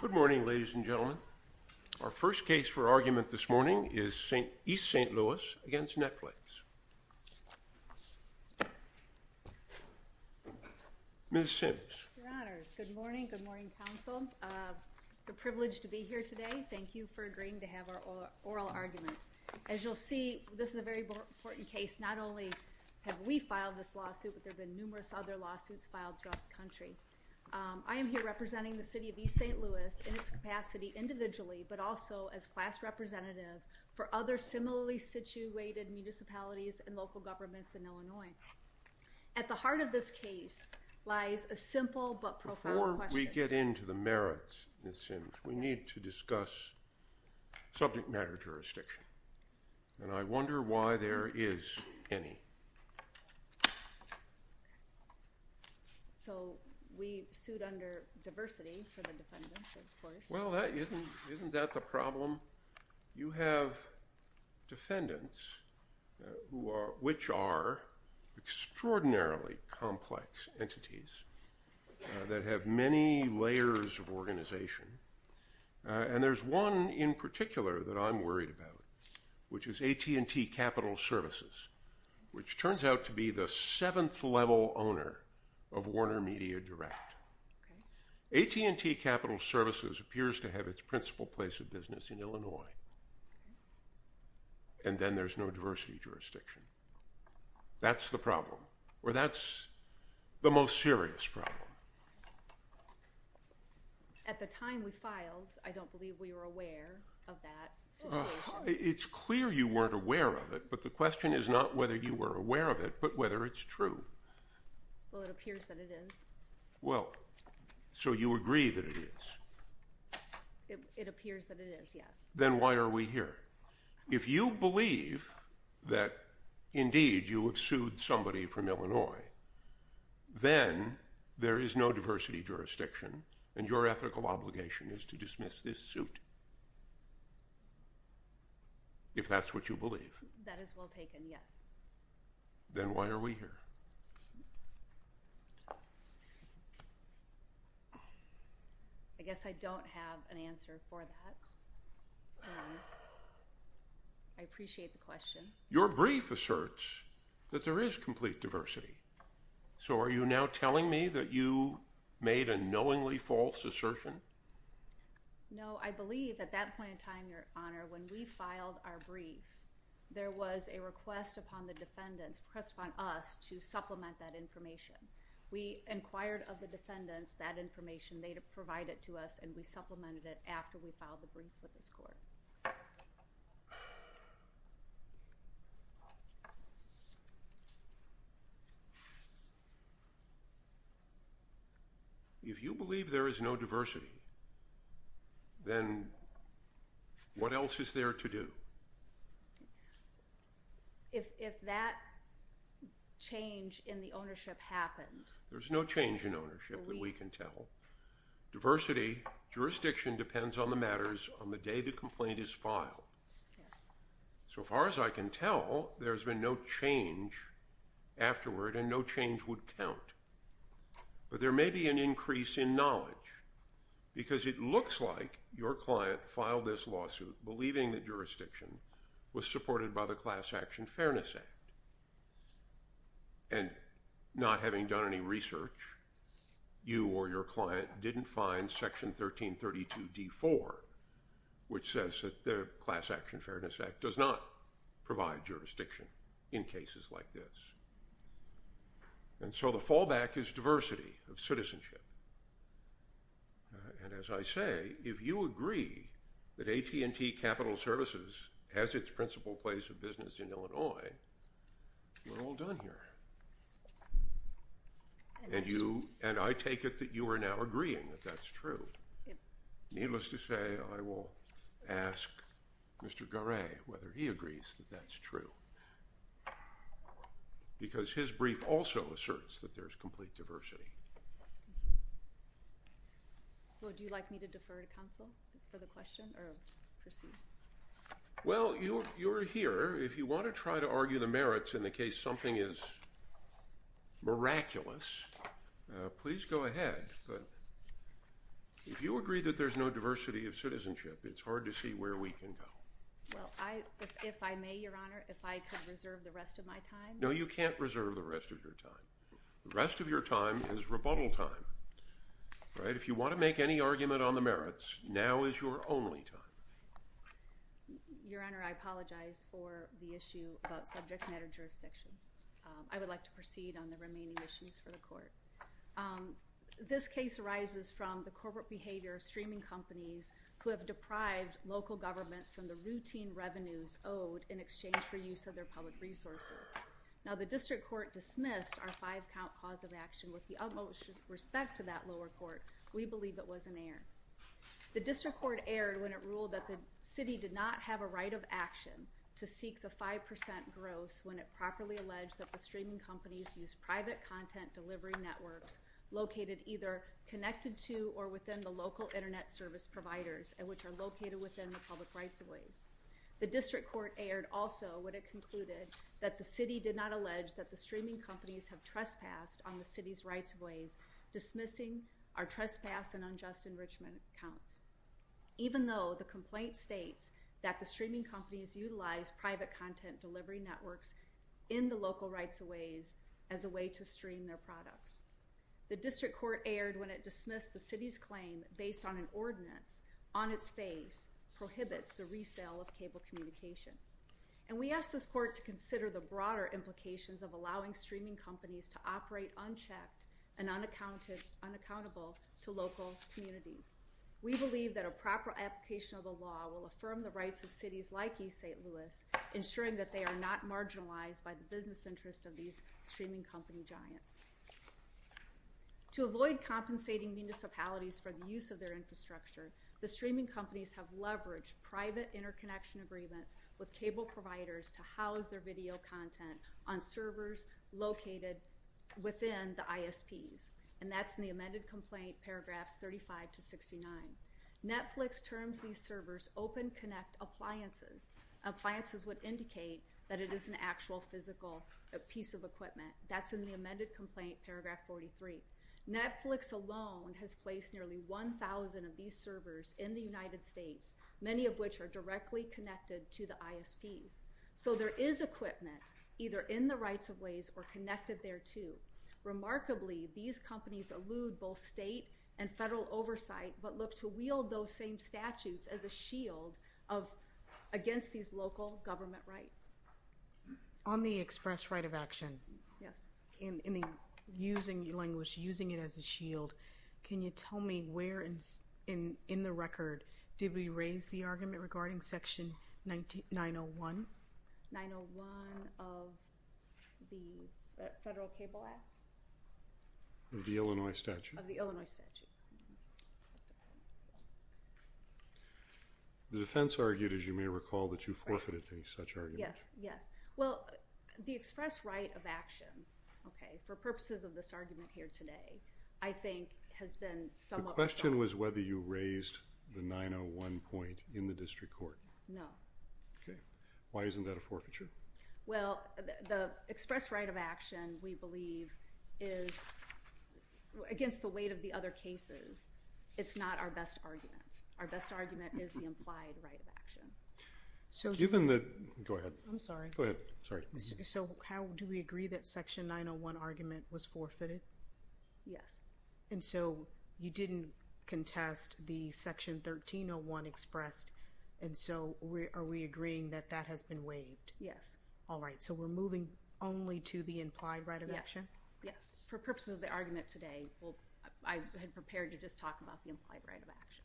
Good morning, ladies and gentlemen. Our first case for argument this morning is East St. Louis v. Netflix. Ms. Sims. Your Honor, good morning. Good morning, counsel. It's a privilege to be here today. Thank you for agreeing to have our oral arguments. As you'll see, this is a very important case. Not only have we filed this lawsuit, but there have been numerous other lawsuits filed throughout the country. I am here representing the City of East St. Louis in its capacity individually, but also as class representative for other similarly situated municipalities and local governments in Illinois. At the heart of this case lies a simple but profound question. Before we get into the merits, Ms. Sims, we need to discuss subject matter jurisdiction. And I wonder why there is any. So we sued under diversity for the defendants, of course. Well, isn't that the problem? You have defendants, which are extraordinarily complex entities that have many layers of organization. And there's one in particular that I'm worried about, which is AT&T Capital Services, which turns out to be the seventh level owner of Warner Media Direct. AT&T Capital Services appears to have its principal place of business in Illinois, and then there's no diversity jurisdiction. That's the problem, or that's the most serious problem. At the time we filed, I don't believe we were aware of that. It's clear you weren't aware of it, but the question is not whether you were aware of it, but whether it's true. Well, it appears that it is. Well, so you agree that it is. It appears that it is, yes. Then why are we here? If you believe that, indeed, you have sued somebody from Illinois, then there is no diversity jurisdiction, and your ethical obligation is to dismiss this suit, if that's what you believe. That is well taken, yes. Then why are we here? I guess I don't have an answer for that. I appreciate the question. Your brief asserts that there is complete diversity, so are you now telling me that you made a knowingly false assertion? No, I believe at that point in time, Your Honor, when we filed our brief, there was a request upon the defendants, a request upon us, to supplement that information. We inquired of the defendants that information. They provided it to us, and we supplemented it after we filed the brief with this court. If you believe there is no diversity, then what else is there to do? If that change in the ownership happened? There's no change in ownership that we can tell. Diversity jurisdiction depends on the matters on the day the complaint is filed. So far as I can tell, there's been no change afterward, and no change would count. But there may be an increase in knowledge, because it looks like your client filed this lawsuit believing that jurisdiction was supported by the Class Action Fairness Act. And not having done any research, you or your client didn't find Section 1332-D4, which says that the Class Action Fairness Act does not provide jurisdiction in cases like this. And so the fallback is diversity of citizenship. And as I say, if you agree that AT&T Capital Services has its principal place of business in Illinois, we're all done here. And I take it that you are now agreeing that that's true. Needless to say, I will ask Mr. Garay whether he agrees that that's true, because his brief also asserts that there's complete diversity. Would you like me to defer to counsel for the question or proceed? Well, you're here. If you want to try to argue the merits in the case something is miraculous, please go ahead. But if you agree that there's no diversity of citizenship, it's hard to see where we can go. Well, if I may, Your Honor, if I could reserve the rest of my time. No, you can't reserve the rest of your time. The rest of your time is rebuttal time. Right? If you want to make any argument on the merits, now is your only time. Your Honor, I apologize for the issue about subject matter jurisdiction. I would like to proceed on the remaining issues for the court. This case arises from the corporate behavior of streaming companies who have deprived local governments from the routine revenues owed in exchange for use of their public resources. Now, the district court dismissed our five-count cause of action with the utmost respect to that lower court. We believe it was an error. The district court erred when it ruled that the city did not have a right of action to seek the 5% gross when it properly alleged that the streaming companies used private content delivery networks located either connected to or within the local Internet service providers and which are located within the public rights of ways. The district court erred also when it concluded that the city did not allege that the streaming companies have trespassed on the city's rights of ways, dismissing our trespass and unjust enrichment accounts, even though the complaint states that the streaming companies utilize private content delivery networks in the local rights of ways as a way to stream their products. The district court erred when it dismissed the city's claim based on an ordinance on its face prohibits the resale of cable communication. And we ask this court to consider the broader implications of allowing streaming companies to operate unchecked and unaccountable to local communities. We believe that a proper application of the law will affirm the rights of cities like East St. Louis, ensuring that they are not marginalized by the business interest of these streaming company giants. To avoid compensating municipalities for the use of their infrastructure, the streaming companies have leveraged private interconnection agreements with cable providers to house their video content on servers located within the ISPs, and that's in the amended complaint paragraphs 35 to 69. Netflix terms these servers open connect appliances. Appliances would indicate that it is an actual physical piece of equipment. That's in the amended complaint paragraph 43. Netflix alone has placed nearly 1,000 of these servers in the United States, many of which are directly connected to the ISPs. So there is equipment either in the rights of ways or connected there too. Remarkably, these companies elude both state and federal oversight but look to wield those same statutes as a shield against these local government rights. On the express right of action, in the using language, using it as a shield, can you tell me where in the record did we raise the argument regarding Section 901? 901 of the Federal Cable Act? Of the Illinois statute? Of the Illinois statute. The defense argued, as you may recall, that you forfeited any such argument. Yes, yes. Well, the express right of action, okay, for purposes of this argument here today, I think has been somewhat— The question was whether you raised the 901 point in the district court. No. Okay. Why isn't that a forfeiture? Well, the express right of action, we believe, is against the weight of the other cases. It's not our best argument. Our best argument is the implied right of action. So given the—go ahead. I'm sorry. Go ahead. Sorry. So how do we agree that Section 901 argument was forfeited? Yes. And so you didn't contest the Section 1301 expressed, and so are we agreeing that that has been waived? Yes. All right. So we're moving only to the implied right of action? Yes, yes. For purposes of the argument today, I had prepared to just talk about the implied right of action.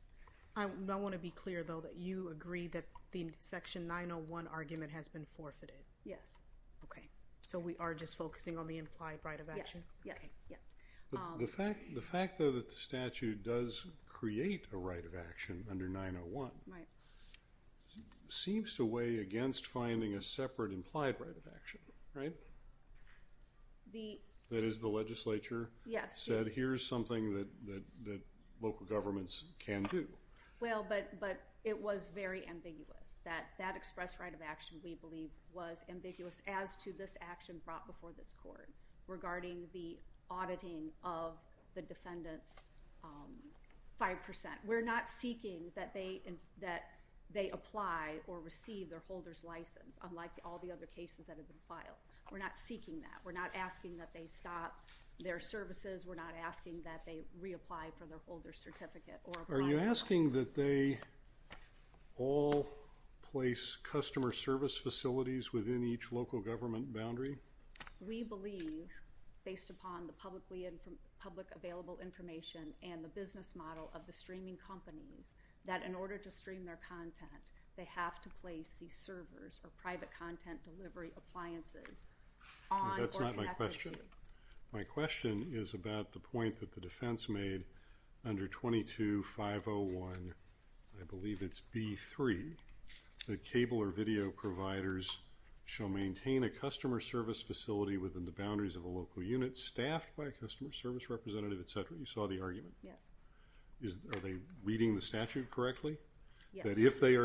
I want to be clear, though, that you agree that the Section 901 argument has been forfeited? Yes. Okay. So we are just focusing on the implied right of action? Yes, yes, yes. The fact, though, that the statute does create a right of action under 901— Right. —seems to weigh against finding a separate implied right of action, right? The— That is, the legislature— Yes. —said here's something that local governments can do. Well, but it was very ambiguous. That expressed right of action, we believe, was ambiguous as to this action brought before this Court regarding the auditing of the defendants' 5%. We're not seeking that they apply or receive their holder's license, unlike all the other cases that have been filed. We're not seeking that. We're not asking that they stop their services. We're not asking that they reapply for their holder's certificate or apply for— Are you asking that they all place customer service facilities within each local government boundary? We believe, based upon the publicly—public available information and the business model of the streaming companies, that in order to stream their content, they have to place these servers or private content delivery appliances on or— That's not my question. My question is about the point that the defense made under 22-501, I believe it's B-3, that cable or video providers shall maintain a customer service facility within the boundaries of a local unit staffed by a customer service representative, et cetera. You saw the argument? Yes. Are they reading the statute correctly? Yes. That if they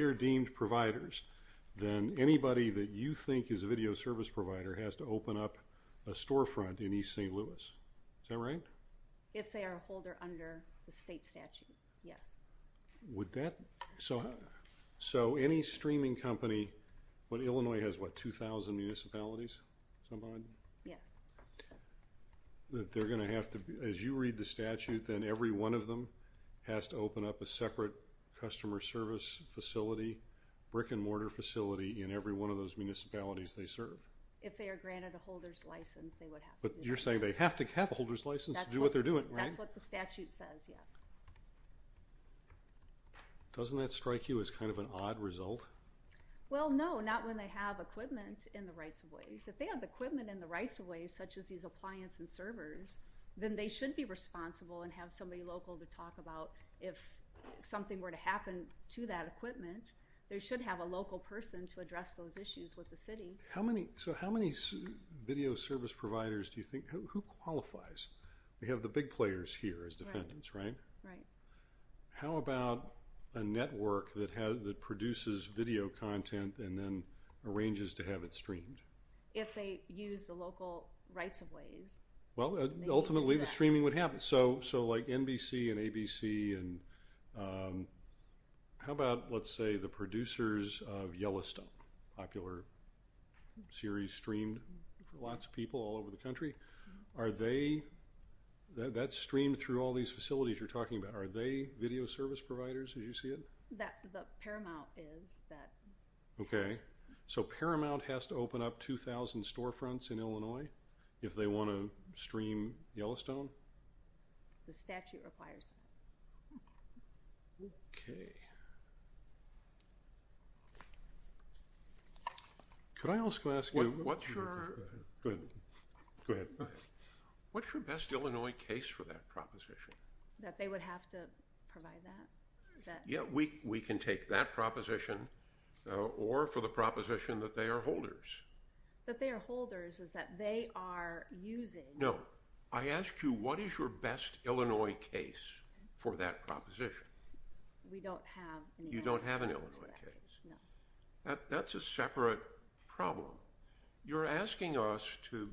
are deemed providers, then anybody that you think is a video service provider has to open up a storefront in East St. Louis. Is that right? If they are a holder under the state statute, yes. Would that—so any streaming company— Illinois has, what, 2,000 municipalities? Yes. That they're going to have to—as you read the statute, then every one of them has to open up a separate customer service facility, brick-and-mortar facility in every one of those municipalities they serve? If they are granted a holder's license, they would have to do that. But you're saying they have to have a holder's license to do what they're doing, right? That's what the statute says, yes. Doesn't that strike you as kind of an odd result? Well, no, not when they have equipment in the rights of ways. If they have equipment in the rights of ways, such as these appliance and servers, then they should be responsible and have somebody local to talk about if something were to happen to that equipment, they should have a local person to address those issues with the city. So how many video service providers do you think—who qualifies? We have the big players here as defendants, right? Right. How about a network that produces video content and then arranges to have it streamed? If they use the local rights of ways. Well, ultimately the streaming would happen. So like NBC and ABC and how about, let's say, the producers of Yellowstone, popular series streamed for lots of people all over the country? Are they—that's streamed through all these facilities you're talking about. Are they video service providers as you see it? The Paramount is. Okay. So Paramount has to open up 2,000 storefronts in Illinois if they want to stream Yellowstone? The statute requires it. Okay. Could I also ask you— What's your— Go ahead. What's your best Illinois case for that proposition? That they would have to provide that? Yeah, we can take that proposition or for the proposition that they are holders. That they are holders is that they are using— No. I asked you what is your best Illinois case for that proposition. We don't have— You don't have an Illinois case? No. That's a separate problem. You're asking us to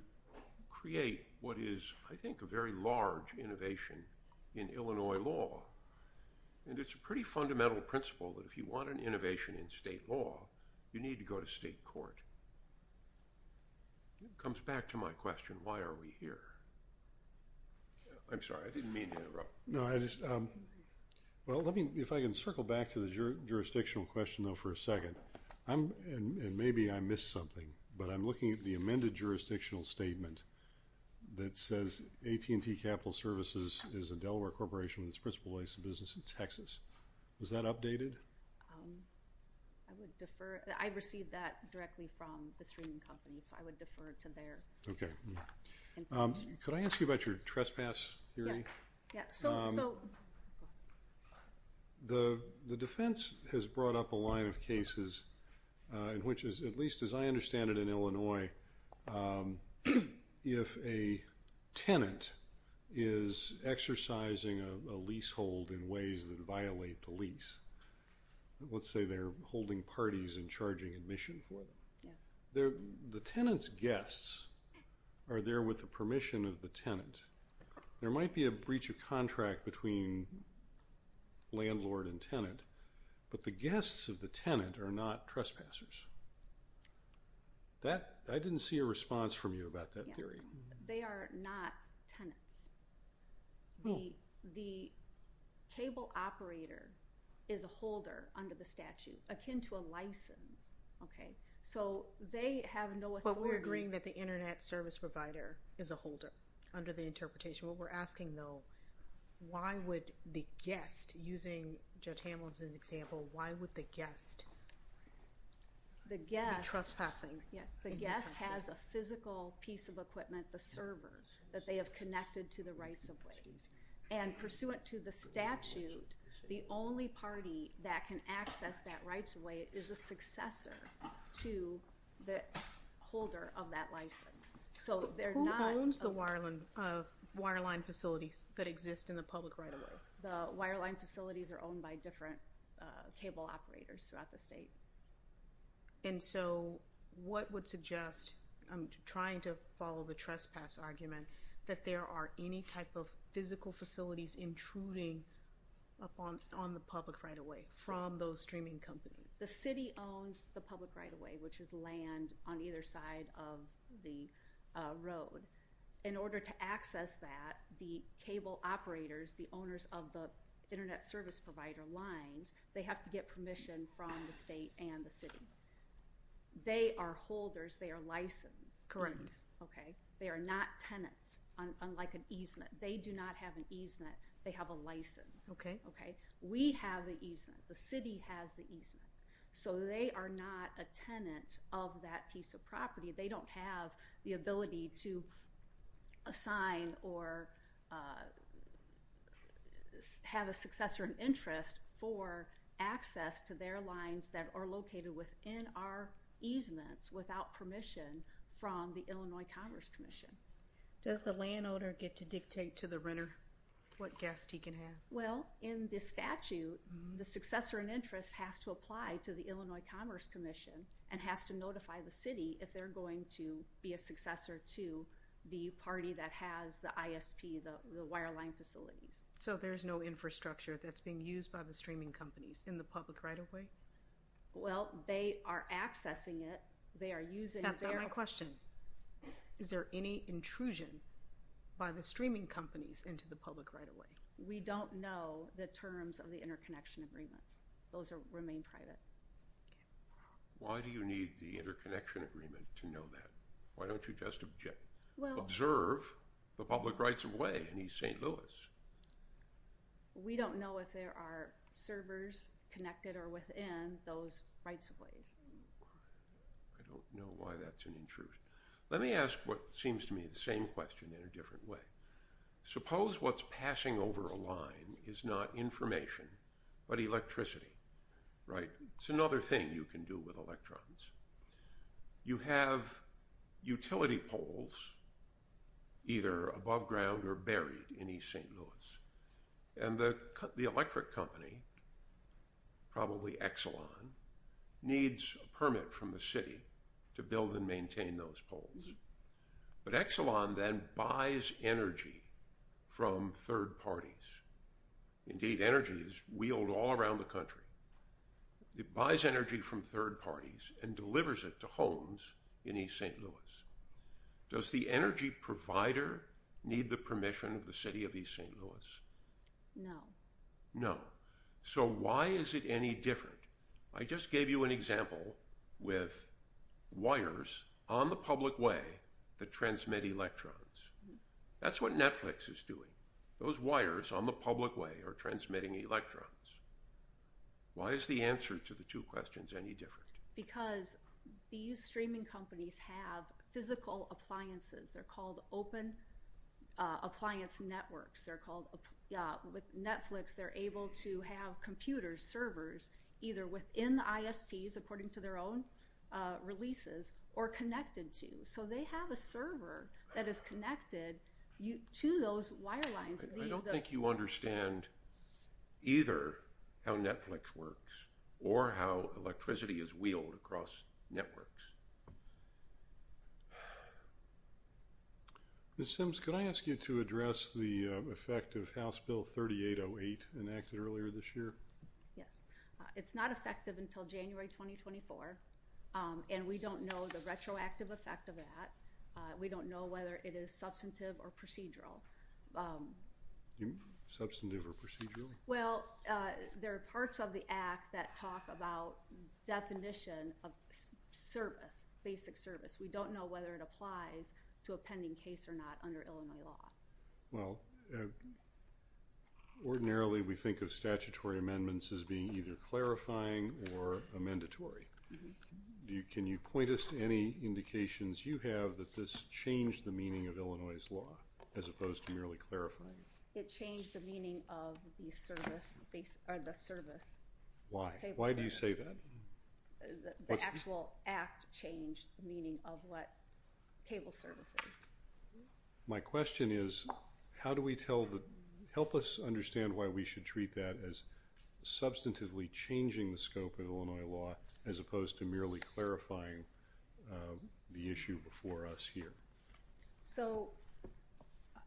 create what is, I think, a very large innovation in Illinois law, and it's a pretty fundamental principle that if you want an innovation in state law, you need to go to state court. It comes back to my question, why are we here? I'm sorry. I didn't mean to interrupt. No, I just— Well, let me—if I can circle back to the jurisdictional question, though, for a second. Maybe I missed something, but I'm looking at the amended jurisdictional statement that says AT&T Capital Services is a Delaware corporation with its principal base of business in Texas. Was that updated? I would defer—I received that directly from the streaming companies, so I would defer to their information. Could I ask you about your trespass theory? Yes. So— The defense has brought up a line of cases in which, at least as I understand it in Illinois, if a tenant is exercising a leasehold in ways that violate the lease, let's say they're holding parties and charging admission for it, the tenant's guests are there with the permission of the tenant. There might be a breach of contract between landlord and tenant, but the guests of the tenant are not trespassers. That—I didn't see a response from you about that theory. They are not tenants. The cable operator is a holder under the statute, akin to a license, okay? So they have no authority— What we're asking, though, why would the guest, using Judge Hamilton's example, why would the guest be trespassing? Yes, the guest has a physical piece of equipment, the server, that they have connected to the rights of ways. And pursuant to the statute, the only party that can access that rights of way is a successor to the holder of that license. Who owns the wireline facilities that exist in the public right-of-way? The wireline facilities are owned by different cable operators throughout the state. And so what would suggest—I'm trying to follow the trespass argument— that there are any type of physical facilities intruding upon the public right-of-way from those streaming companies? The city owns the public right-of-way, which is land on either side of the road. In order to access that, the cable operators, the owners of the internet service provider lines, they have to get permission from the state and the city. They are holders. They are licensed. Correct. Okay? They are not tenants, unlike an easement. They do not have an easement. They have a license. Okay. We have the easement. The city has the easement. So they are not a tenant of that piece of property. They don't have the ability to assign or have a successor in interest for access to their lines that are located within our easements without permission from the Illinois Commerce Commission. Does the landowner get to dictate to the renter what guest he can have? Well, in this statute, the successor in interest has to apply to the Illinois Commerce Commission and has to notify the city if they're going to be a successor to the party that has the ISP, the wireline facilities. So there's no infrastructure that's being used by the streaming companies in the public right-of-way? Well, they are accessing it. They are using their— That's not my question. Is there any intrusion by the streaming companies into the public right-of-way? We don't know the terms of the interconnection agreements. Those remain private. Why do you need the interconnection agreement to know that? Why don't you just observe the public rights-of-way in East St. Louis? We don't know if there are servers connected or within those rights-of-ways. I don't know why that's an intrusion. Let me ask what seems to me the same question in a different way. Suppose what's passing over a line is not information but electricity, right? It's another thing you can do with electrons. You have utility poles either above ground or buried in East St. Louis, and the electric company, probably Exelon, needs a permit from the city to build and maintain those poles. But Exelon then buys energy from third parties. Indeed, energy is wheeled all around the country. It buys energy from third parties and delivers it to homes in East St. Louis. Does the energy provider need the permission of the city of East St. Louis? No. No. So why is it any different? I just gave you an example with wires on the public way that transmit electrons. That's what Netflix is doing. Those wires on the public way are transmitting electrons. Why is the answer to the two questions any different? Because these streaming companies have physical appliances. They're called open appliance networks. With Netflix, they're able to have computers, servers, either within the ISPs according to their own releases or connected to. So they have a server that is connected to those wire lines. I don't think you understand either how Netflix works or how electricity is wheeled across networks. Ms. Sims, can I ask you to address the effect of House Bill 3808 enacted earlier this year? Yes. It's not effective until January 2024, and we don't know the retroactive effect of that. We don't know whether it is substantive or procedural. Substantive or procedural? Well, there are parts of the Act that talk about definition of service, basic service. We don't know whether it applies to a pending case or not under Illinois law. Well, ordinarily we think of statutory amendments as being either clarifying or a mandatory. Can you point us to any indications you have that this changed the meaning of Illinois' law as opposed to merely clarifying it? It changed the meaning of the service. Why? Why do you say that? The actual Act changed the meaning of what cable service is. My question is, help us understand why we should treat that as substantively changing the scope of Illinois law as opposed to merely clarifying the issue before us here. So,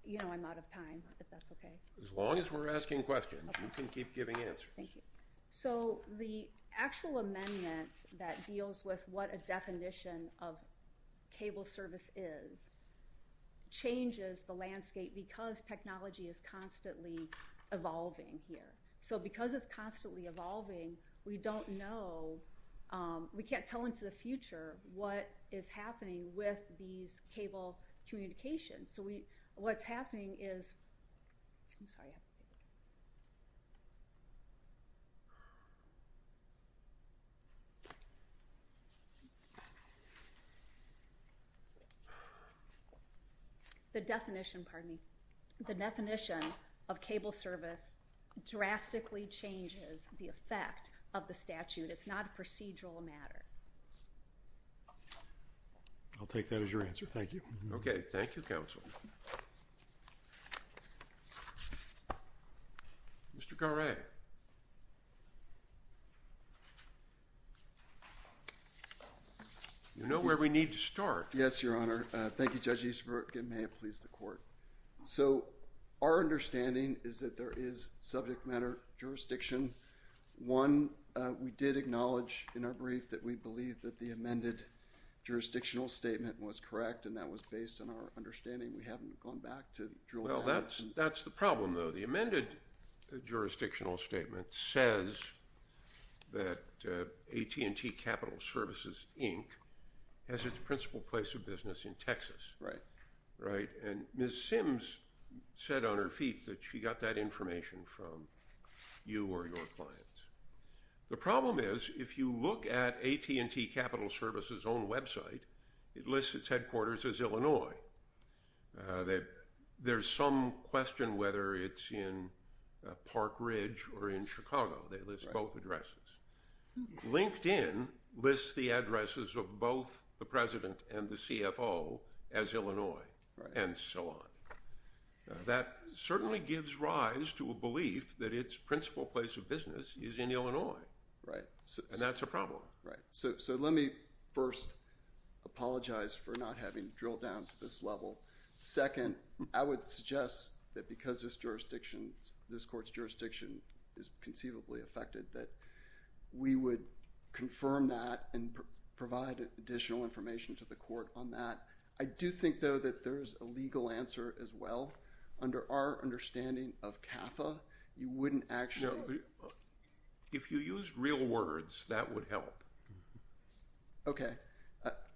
you know, I'm out of time, if that's okay. As long as we're asking questions, you can keep giving answers. Thank you. So the actual amendment that deals with what a definition of cable service is changes the landscape because technology is constantly evolving here. So because it's constantly evolving, we don't know. We can't tell into the future what is happening with these cable communications. So what's happening is—I'm sorry. The definition—pardon me. The definition of cable service drastically changes the effect of the statute. It's not a procedural matter. I'll take that as your answer. Thank you. Okay. Thank you, Counsel. Mr. Garay. You know where we need to start. Yes, Your Honor. Thank you, Judge Easterberg, and may it please the Court. So our understanding is that there is subject matter jurisdiction. One, we did acknowledge in our brief that we believe that the amended jurisdictional statement was correct, and that was based on our understanding. We haven't gone back to drill down. Well, that's the problem, though. The amended jurisdictional statement says that AT&T Capital Services, Inc. has its principal place of business in Texas. Right. Right, and Ms. Sims said on her feet that she got that information from you or your clients. The problem is, if you look at AT&T Capital Services' own website, it lists its headquarters as Illinois. There's some question whether it's in Park Ridge or in Chicago. They list both addresses. LinkedIn lists the addresses of both the President and the CFO as Illinois, and so on. That certainly gives rise to a belief that its principal place of business is in Illinois, and that's a problem. Right. So let me first apologize for not having drilled down to this level. Second, I would suggest that because this court's jurisdiction is conceivably affected, that we would confirm that and provide additional information to the court on that. I do think, though, that there is a legal answer as well. Under our understanding of CAFA, you wouldn't actually— No. If you use real words, that would help. Okay.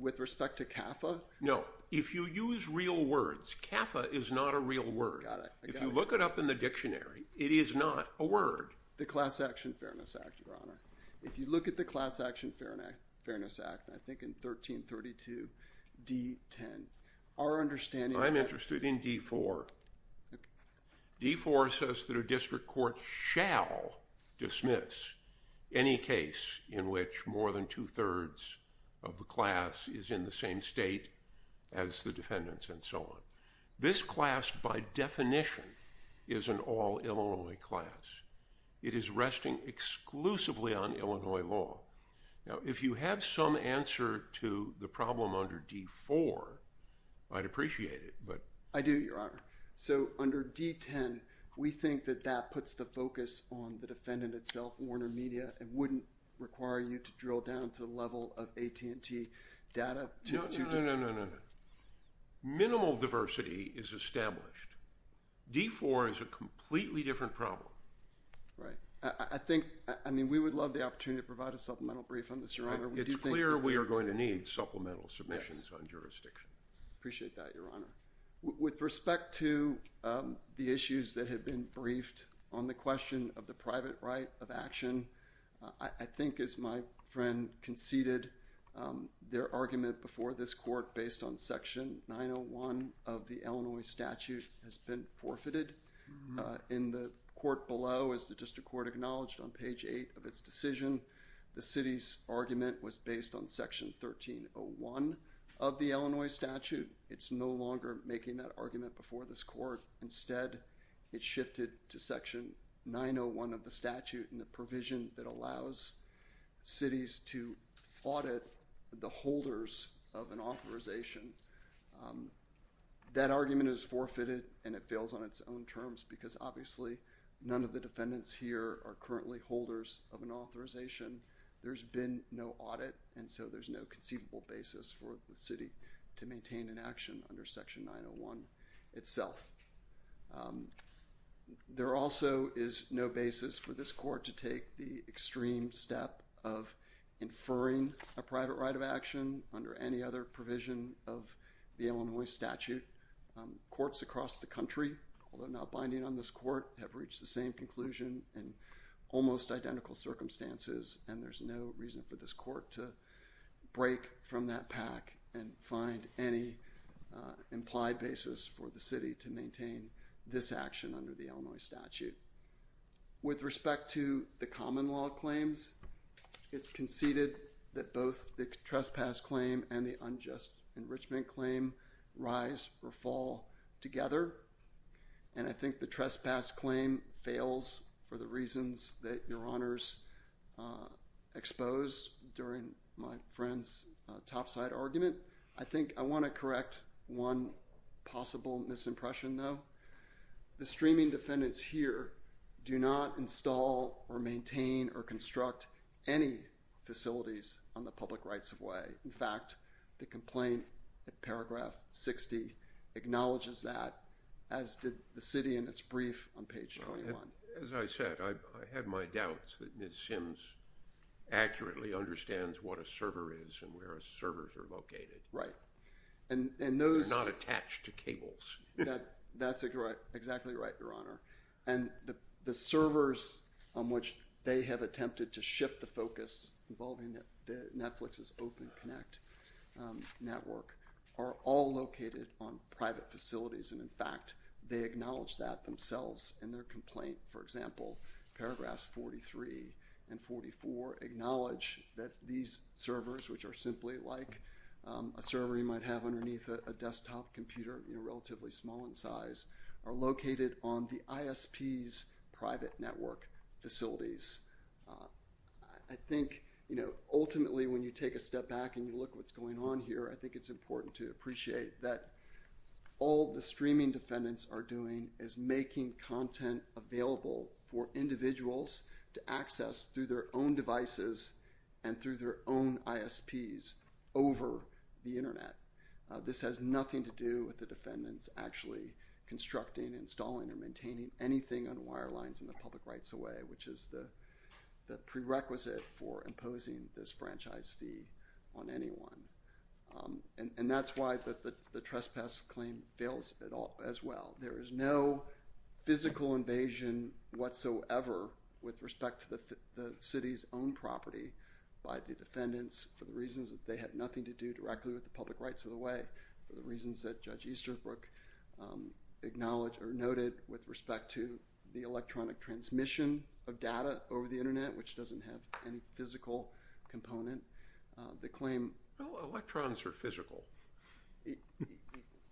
With respect to CAFA? No. If you use real words, CAFA is not a real word. Got it. If you look it up in the dictionary, it is not a word. The Class Action Fairness Act, Your Honor. If you look at the Class Action Fairness Act, I think in 1332 D-10, our understanding— I'm interested in D-4. D-4 says that a district court shall dismiss any case in which more than two-thirds of the class is in the same state as the defendants and so on. This class, by definition, is an all-Illinois class. It is resting exclusively on Illinois law. Now, if you have some answer to the problem under D-4, I'd appreciate it, but— So under D-10, we think that that puts the focus on the defendant itself, Warner Media, and wouldn't require you to drill down to the level of AT&T data to— No, no, no, no, no, no. Minimal diversity is established. D-4 is a completely different problem. Right. I think—I mean, we would love the opportunity to provide a supplemental brief on this, Your Honor. It's clear we are going to need supplemental submissions on jurisdiction. Yes. Appreciate that, Your Honor. With respect to the issues that have been briefed on the question of the private right of action, I think, as my friend conceded, their argument before this court based on Section 901 of the Illinois statute has been forfeited. In the court below, as the district court acknowledged on page 8 of its decision, the city's argument was based on Section 1301 of the Illinois statute. It's no longer making that argument before this court. Instead, it shifted to Section 901 of the statute and the provision that allows cities to audit the holders of an authorization. That argument is forfeited, and it fails on its own terms because, obviously, none of the defendants here are currently holders of an authorization. There's been no audit, and so there's no conceivable basis for the city to maintain an action under Section 901 itself. There also is no basis for this court to take the extreme step of inferring a private right of action under any other provision of the Illinois statute. Courts across the country, although not binding on this court, have reached the same conclusion in almost identical circumstances, and there's no reason for this court to break from that pack and find any implied basis for the city to maintain this action under the Illinois statute. With respect to the common law claims, it's conceded that both the trespass claim and the unjust enrichment claim rise or fall together, and I think the trespass claim fails for the reasons that Your Honors exposed during my friend's topside argument. I think I want to correct one possible misimpression, though. The streaming defendants here do not install or maintain or construct any facilities on the public rights-of-way. In fact, the complaint at paragraph 60 acknowledges that, as did the city in its brief on page 21. As I said, I have my doubts that Ms. Sims accurately understands what a server is and where servers are located. Right. They're not attached to cables. That's exactly right, Your Honor. And the servers on which they have attempted to shift the focus involving Netflix's Open Connect network are all located on private facilities, and, in fact, they acknowledge that themselves in their complaint. For example, paragraphs 43 and 44 acknowledge that these servers, which are simply like a server you might have underneath a desktop computer, you know, relatively small in size, are located on the ISP's private network facilities. I think, you know, ultimately when you take a step back and you look at what's going on here, I think it's important to appreciate that all the streaming defendants are doing is making content available for individuals to access through their own devices and through their own ISPs over the Internet. This has nothing to do with the defendants actually constructing, installing, or maintaining anything on wirelines in the public rights-of-way, which is the prerequisite for imposing this franchise fee on anyone. And that's why the trespass claim fails as well. There is no physical invasion whatsoever with respect to the city's own property by the defendants for the reasons that they had nothing to do directly with the public rights-of-the-way, for the reasons that Judge Easterbrook acknowledged or noted with respect to the electronic transmission of data over the Internet, which doesn't have any physical component. The claim… Well, electrons are physical.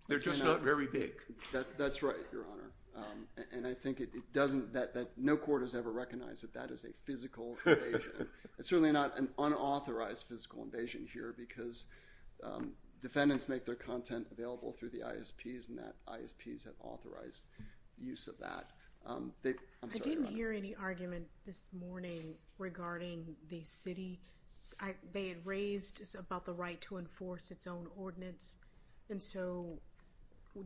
They're just not very big. That's right, Your Honor. And I think it doesn't, that no court has ever recognized that that is a physical invasion. It's certainly not an unauthorized physical invasion here because defendants make their content available through the ISPs, and that ISPs have authorized use of that. I'm sorry, Your Honor. I didn't hear any argument this morning regarding the city. They had raised about the right to enforce its own ordinance. And so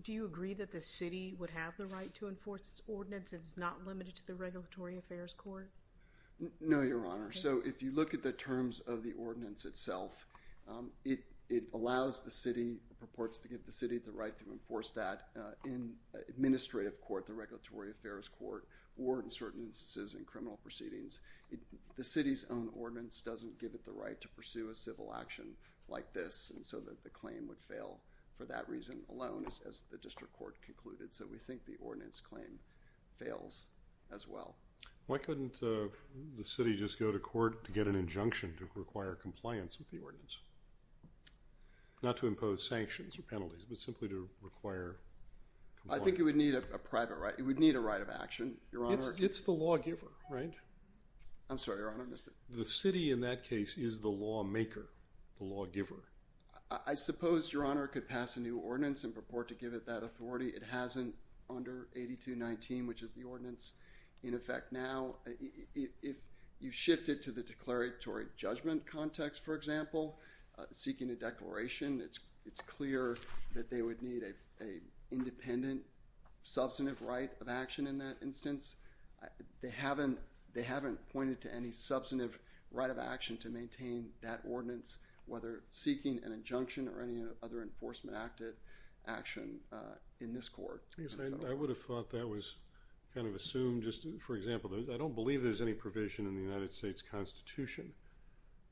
do you agree that the city would have the right to enforce its ordinance? It's not limited to the Regulatory Affairs Court? No, Your Honor. So if you look at the terms of the ordinance itself, it allows the city, purports to give the city the right to enforce that in administrative court, the Regulatory Affairs Court, or in certain instances in criminal proceedings. The city's own ordinance doesn't give it the right to pursue a civil action like this, and so the claim would fail for that reason alone, as the district court concluded. So we think the ordinance claim fails as well. Why couldn't the city just go to court to get an injunction to require compliance with the ordinance, not to impose sanctions or penalties, but simply to require compliance? I think it would need a private right. It would need a right of action, Your Honor. It's the lawgiver, right? I'm sorry, Your Honor. I missed it. The city in that case is the lawmaker, the lawgiver. I suppose, Your Honor, it could pass a new ordinance and purport to give it that authority. It hasn't under 8219, which is the ordinance in effect now. If you shift it to the declaratory judgment context, for example, seeking a declaration, it's clear that they would need an independent, substantive right of action in that instance. They haven't pointed to any substantive right of action to maintain that ordinance, whether seeking an injunction or any other enforcement action in this court. I would have thought that was kind of assumed. For example, I don't believe there's any provision in the United States Constitution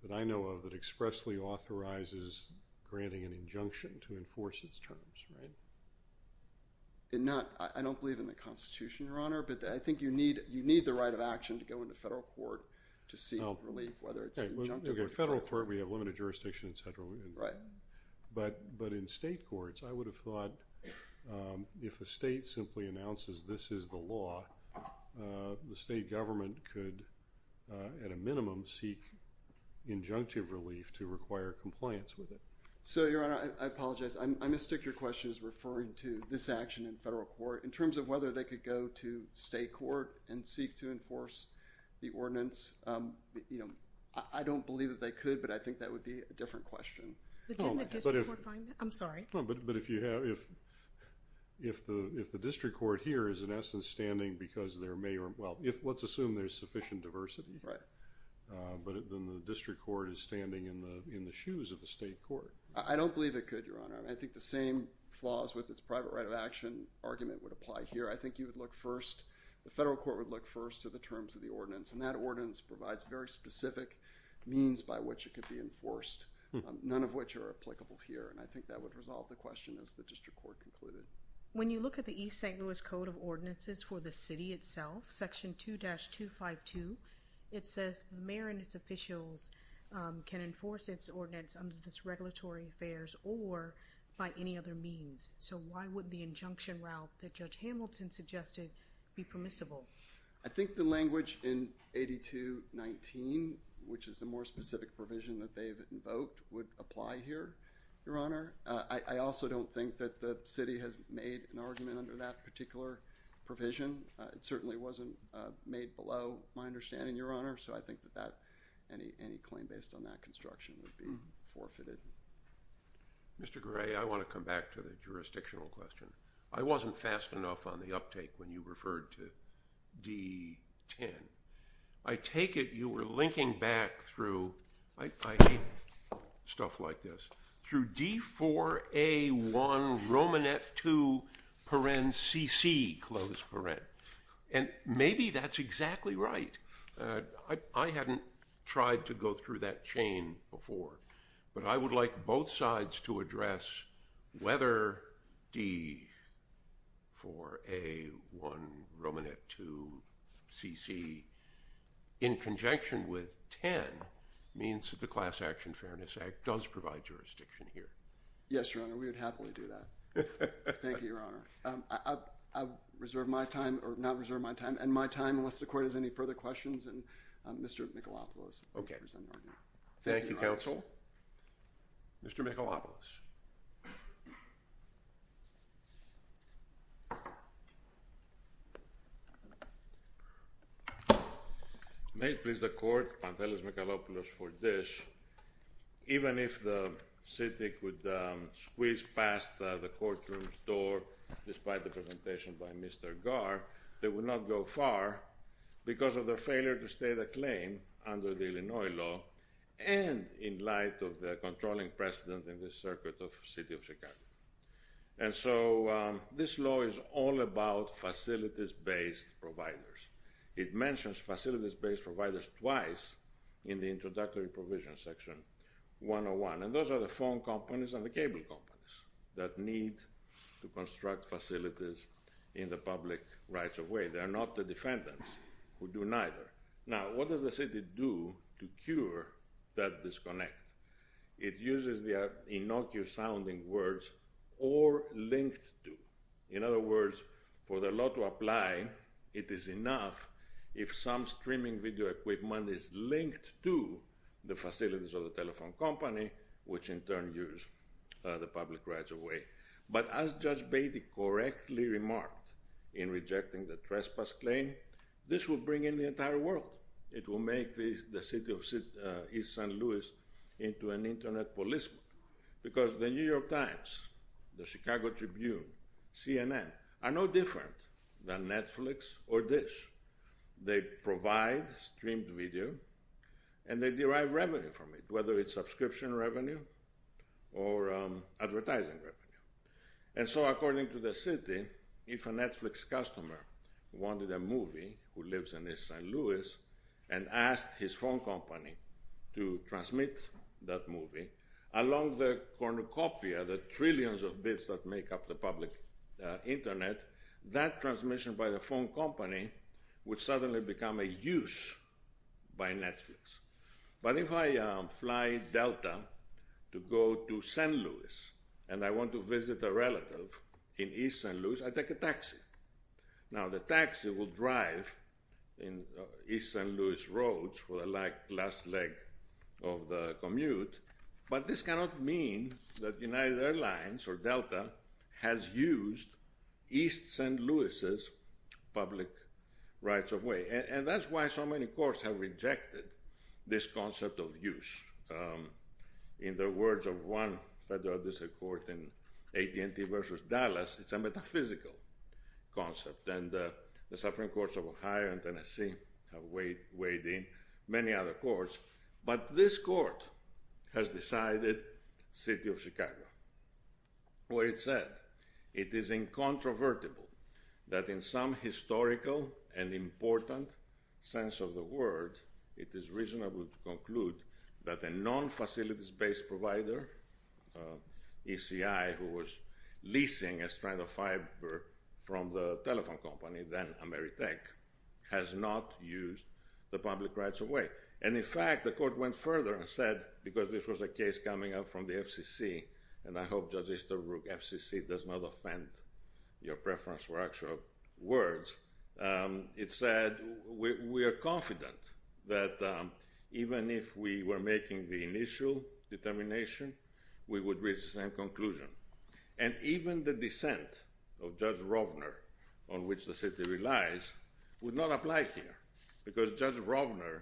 that I know of that expressly authorizes granting an injunction to enforce its terms, right? I don't believe in the Constitution, Your Honor, but I think you need the right of action to go into federal court to seek relief, whether it's injunctive or not. Okay, federal court, we have limited jurisdiction, et cetera. Right. But in state courts, I would have thought if a state simply announces this is the law, the state government could, at a minimum, seek injunctive relief to require compliance with it. So, Your Honor, I apologize. I mistake your question as referring to this action in federal court. In terms of whether they could go to state court and seek to enforce the ordinance, you know, I don't believe that they could, but I think that would be a different question. But can the district court find that? I'm sorry. But if the district court here is, in essence, standing because there may or, well, let's assume there's sufficient diversity. Right. But then the district court is standing in the shoes of the state court. I don't believe it could, Your Honor. I think the same flaws with this private right of action argument would apply here. And that ordinance provides very specific means by which it could be enforced, none of which are applicable here. And I think that would resolve the question as the district court concluded. When you look at the East St. Louis Code of Ordinances for the city itself, Section 2-252, it says the mayor and its officials can enforce its ordinance under this regulatory affairs or by any other means. So, why would the injunction route that Judge Hamilton suggested be permissible? I think the language in 8219, which is a more specific provision that they've invoked, would apply here, Your Honor. I also don't think that the city has made an argument under that particular provision. It certainly wasn't made below my understanding, Your Honor. So I think that any claim based on that construction would be forfeited. Mr. Gray, I want to come back to the jurisdictional question. I wasn't fast enough on the uptake when you referred to D-10. I take it you were linking back through, I hate stuff like this, through D-4A-1-Romanet-2-CC. And maybe that's exactly right. I hadn't tried to go through that chain before. But I would like both sides to address whether D-4A-1-Romanet-2-CC, in conjunction with 10, means that the Class Action Fairness Act does provide jurisdiction here. Yes, Your Honor, we would happily do that. Thank you, Your Honor. I reserve my time, or not reserve my time, and my time, unless the court has any further questions, and Mr. Michelopoulos. Thank you, counsel. Mr. Michelopoulos. May it please the court, Pantelis Michelopoulos for this. Even if the city could squeeze past the courtroom's door, despite the presentation by Mr. Garr, they would not go far because of their failure to state a claim under the Illinois law, and in light of the controlling precedent in the circuit of the city of Chicago. And so this law is all about facilities-based providers. It mentions facilities-based providers twice in the introductory provision section 101. And those are the phone companies and the cable companies that need to construct facilities in the public rights of way. They are not the defendants who do neither. Now, what does the city do to cure that disconnect? It uses the innocuous-sounding words, or linked to. In other words, for the law to apply, it is enough if some streaming video equipment is linked to the facilities of the telephone company, which in turn use the public rights of way. But as Judge Beatty correctly remarked in rejecting the trespass claim, this will bring in the entire world. It will make the city of East St. Louis into an Internet policeman. Because the New York Times, the Chicago Tribune, CNN, are no different than Netflix or Dish. They provide streamed video, and they derive revenue from it, whether it's subscription revenue or advertising revenue. And so according to the city, if a Netflix customer wanted a movie, who lives in East St. Louis, and asked his phone company to transmit that movie, along the cornucopia, the trillions of bits that make up the public Internet, that transmission by the phone company would suddenly become a use by Netflix. But if I fly Delta to go to St. Louis, and I want to visit a relative in East St. Louis, I take a taxi. Now, the taxi will drive in East St. Louis roads for the last leg of the commute, but this cannot mean that United Airlines or Delta has used East St. Louis' public rights-of-way. And that's why so many courts have rejected this concept of use. In the words of one federal district court in AT&T versus Dallas, it's a metaphysical concept. And the Supreme Courts of Ohio and Tennessee have weighed in, many other courts. But this court has decided, City of Chicago, where it said, it is incontrovertible that in some historical and important sense of the word, it is reasonable to conclude that a non-facilities-based provider, ECI, who was leasing a strand of fiber from the telephone company, then Ameritech, And in fact, the court went further and said, because this was a case coming up from the FCC, and I hope Judge Easterbrook, FCC does not offend your preference for actual words, it said, we are confident that even if we were making the initial determination, we would reach the same conclusion. And even the dissent of Judge Rovner, on which the city relies, would not apply here. Because Judge Rovner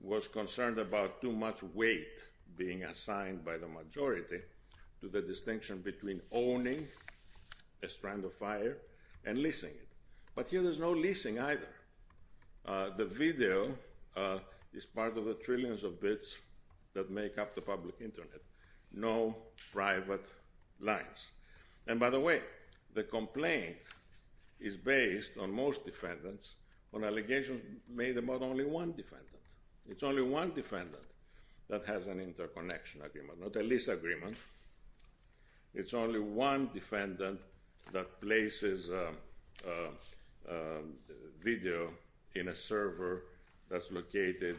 was concerned about too much weight being assigned by the majority to the distinction between owning a strand of fiber and leasing it. But here there's no leasing either. The video is part of the trillions of bits that make up the public internet. No private lines. And by the way, the complaint is based on most defendants, on allegations made about only one defendant. It's only one defendant that has an interconnection agreement, not a lease agreement. It's only one defendant that places video in a server that's located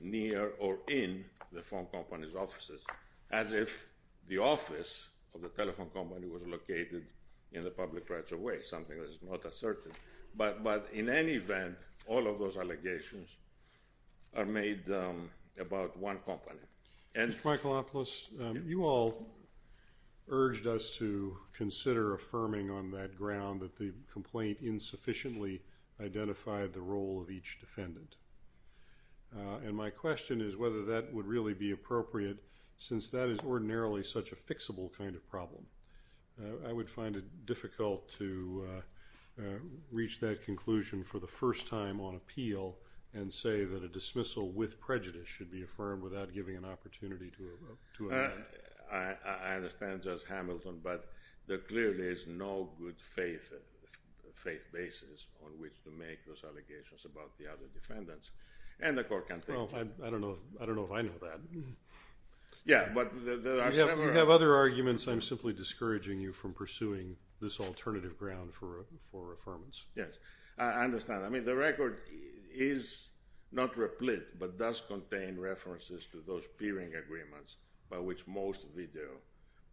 near or in the phone company's offices, as if the office of the telephone company was located in the public rights of way, something that is not assertive. But in any event, all of those allegations are made about one company. Mr. Michaelopoulos, you all urged us to consider affirming on that ground that the complaint insufficiently identified the role of each defendant. And my question is whether that would really be appropriate, since that is ordinarily such a fixable kind of problem. I would find it difficult to reach that conclusion for the first time on appeal and say that a dismissal with prejudice should be affirmed without giving an opportunity to a defendant. I understand, Judge Hamilton, but there clearly is no good faith basis on which to make those allegations about the other defendants. Well, I don't know if I know that. You have other arguments. I'm simply discouraging you from pursuing this alternative ground for affirmance. Yes, I understand. I mean, the record is not replete, but does contain references to those peering agreements by which most video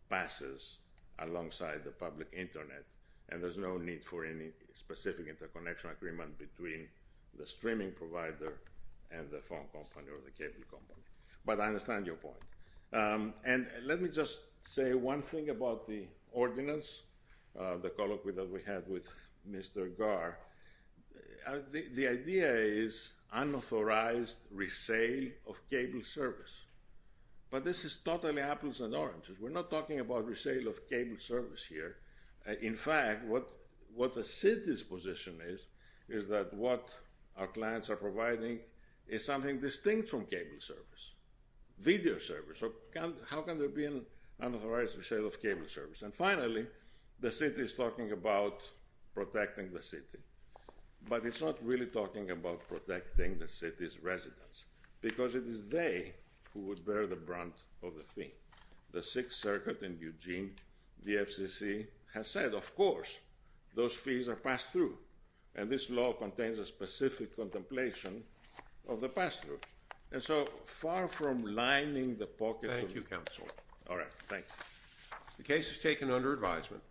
passes alongside the public Internet, and there's no need for any specific interconnection agreement between the streaming provider and the phone company or the cable company. But I understand your point. And let me just say one thing about the ordinance, the colloquy that we had with Mr. Garr. The idea is unauthorized resale of cable service. But this is totally apples and oranges. We're not talking about resale of cable service here. In fact, what the city's position is, is that what our clients are providing is something distinct from cable service, video service. So how can there be an unauthorized resale of cable service? And finally, the city is talking about protecting the city, but it's not really talking about protecting the city's residents because it is they who would bear the brunt of the fee. The Sixth Circuit in Eugene, the FCC, has said, of course, those fees are passed through. And this law contains a specific contemplation of the pass-through. And so far from lining the pockets of the council. Thank you, Counselor. All right, thank you. The case is taken under advisement.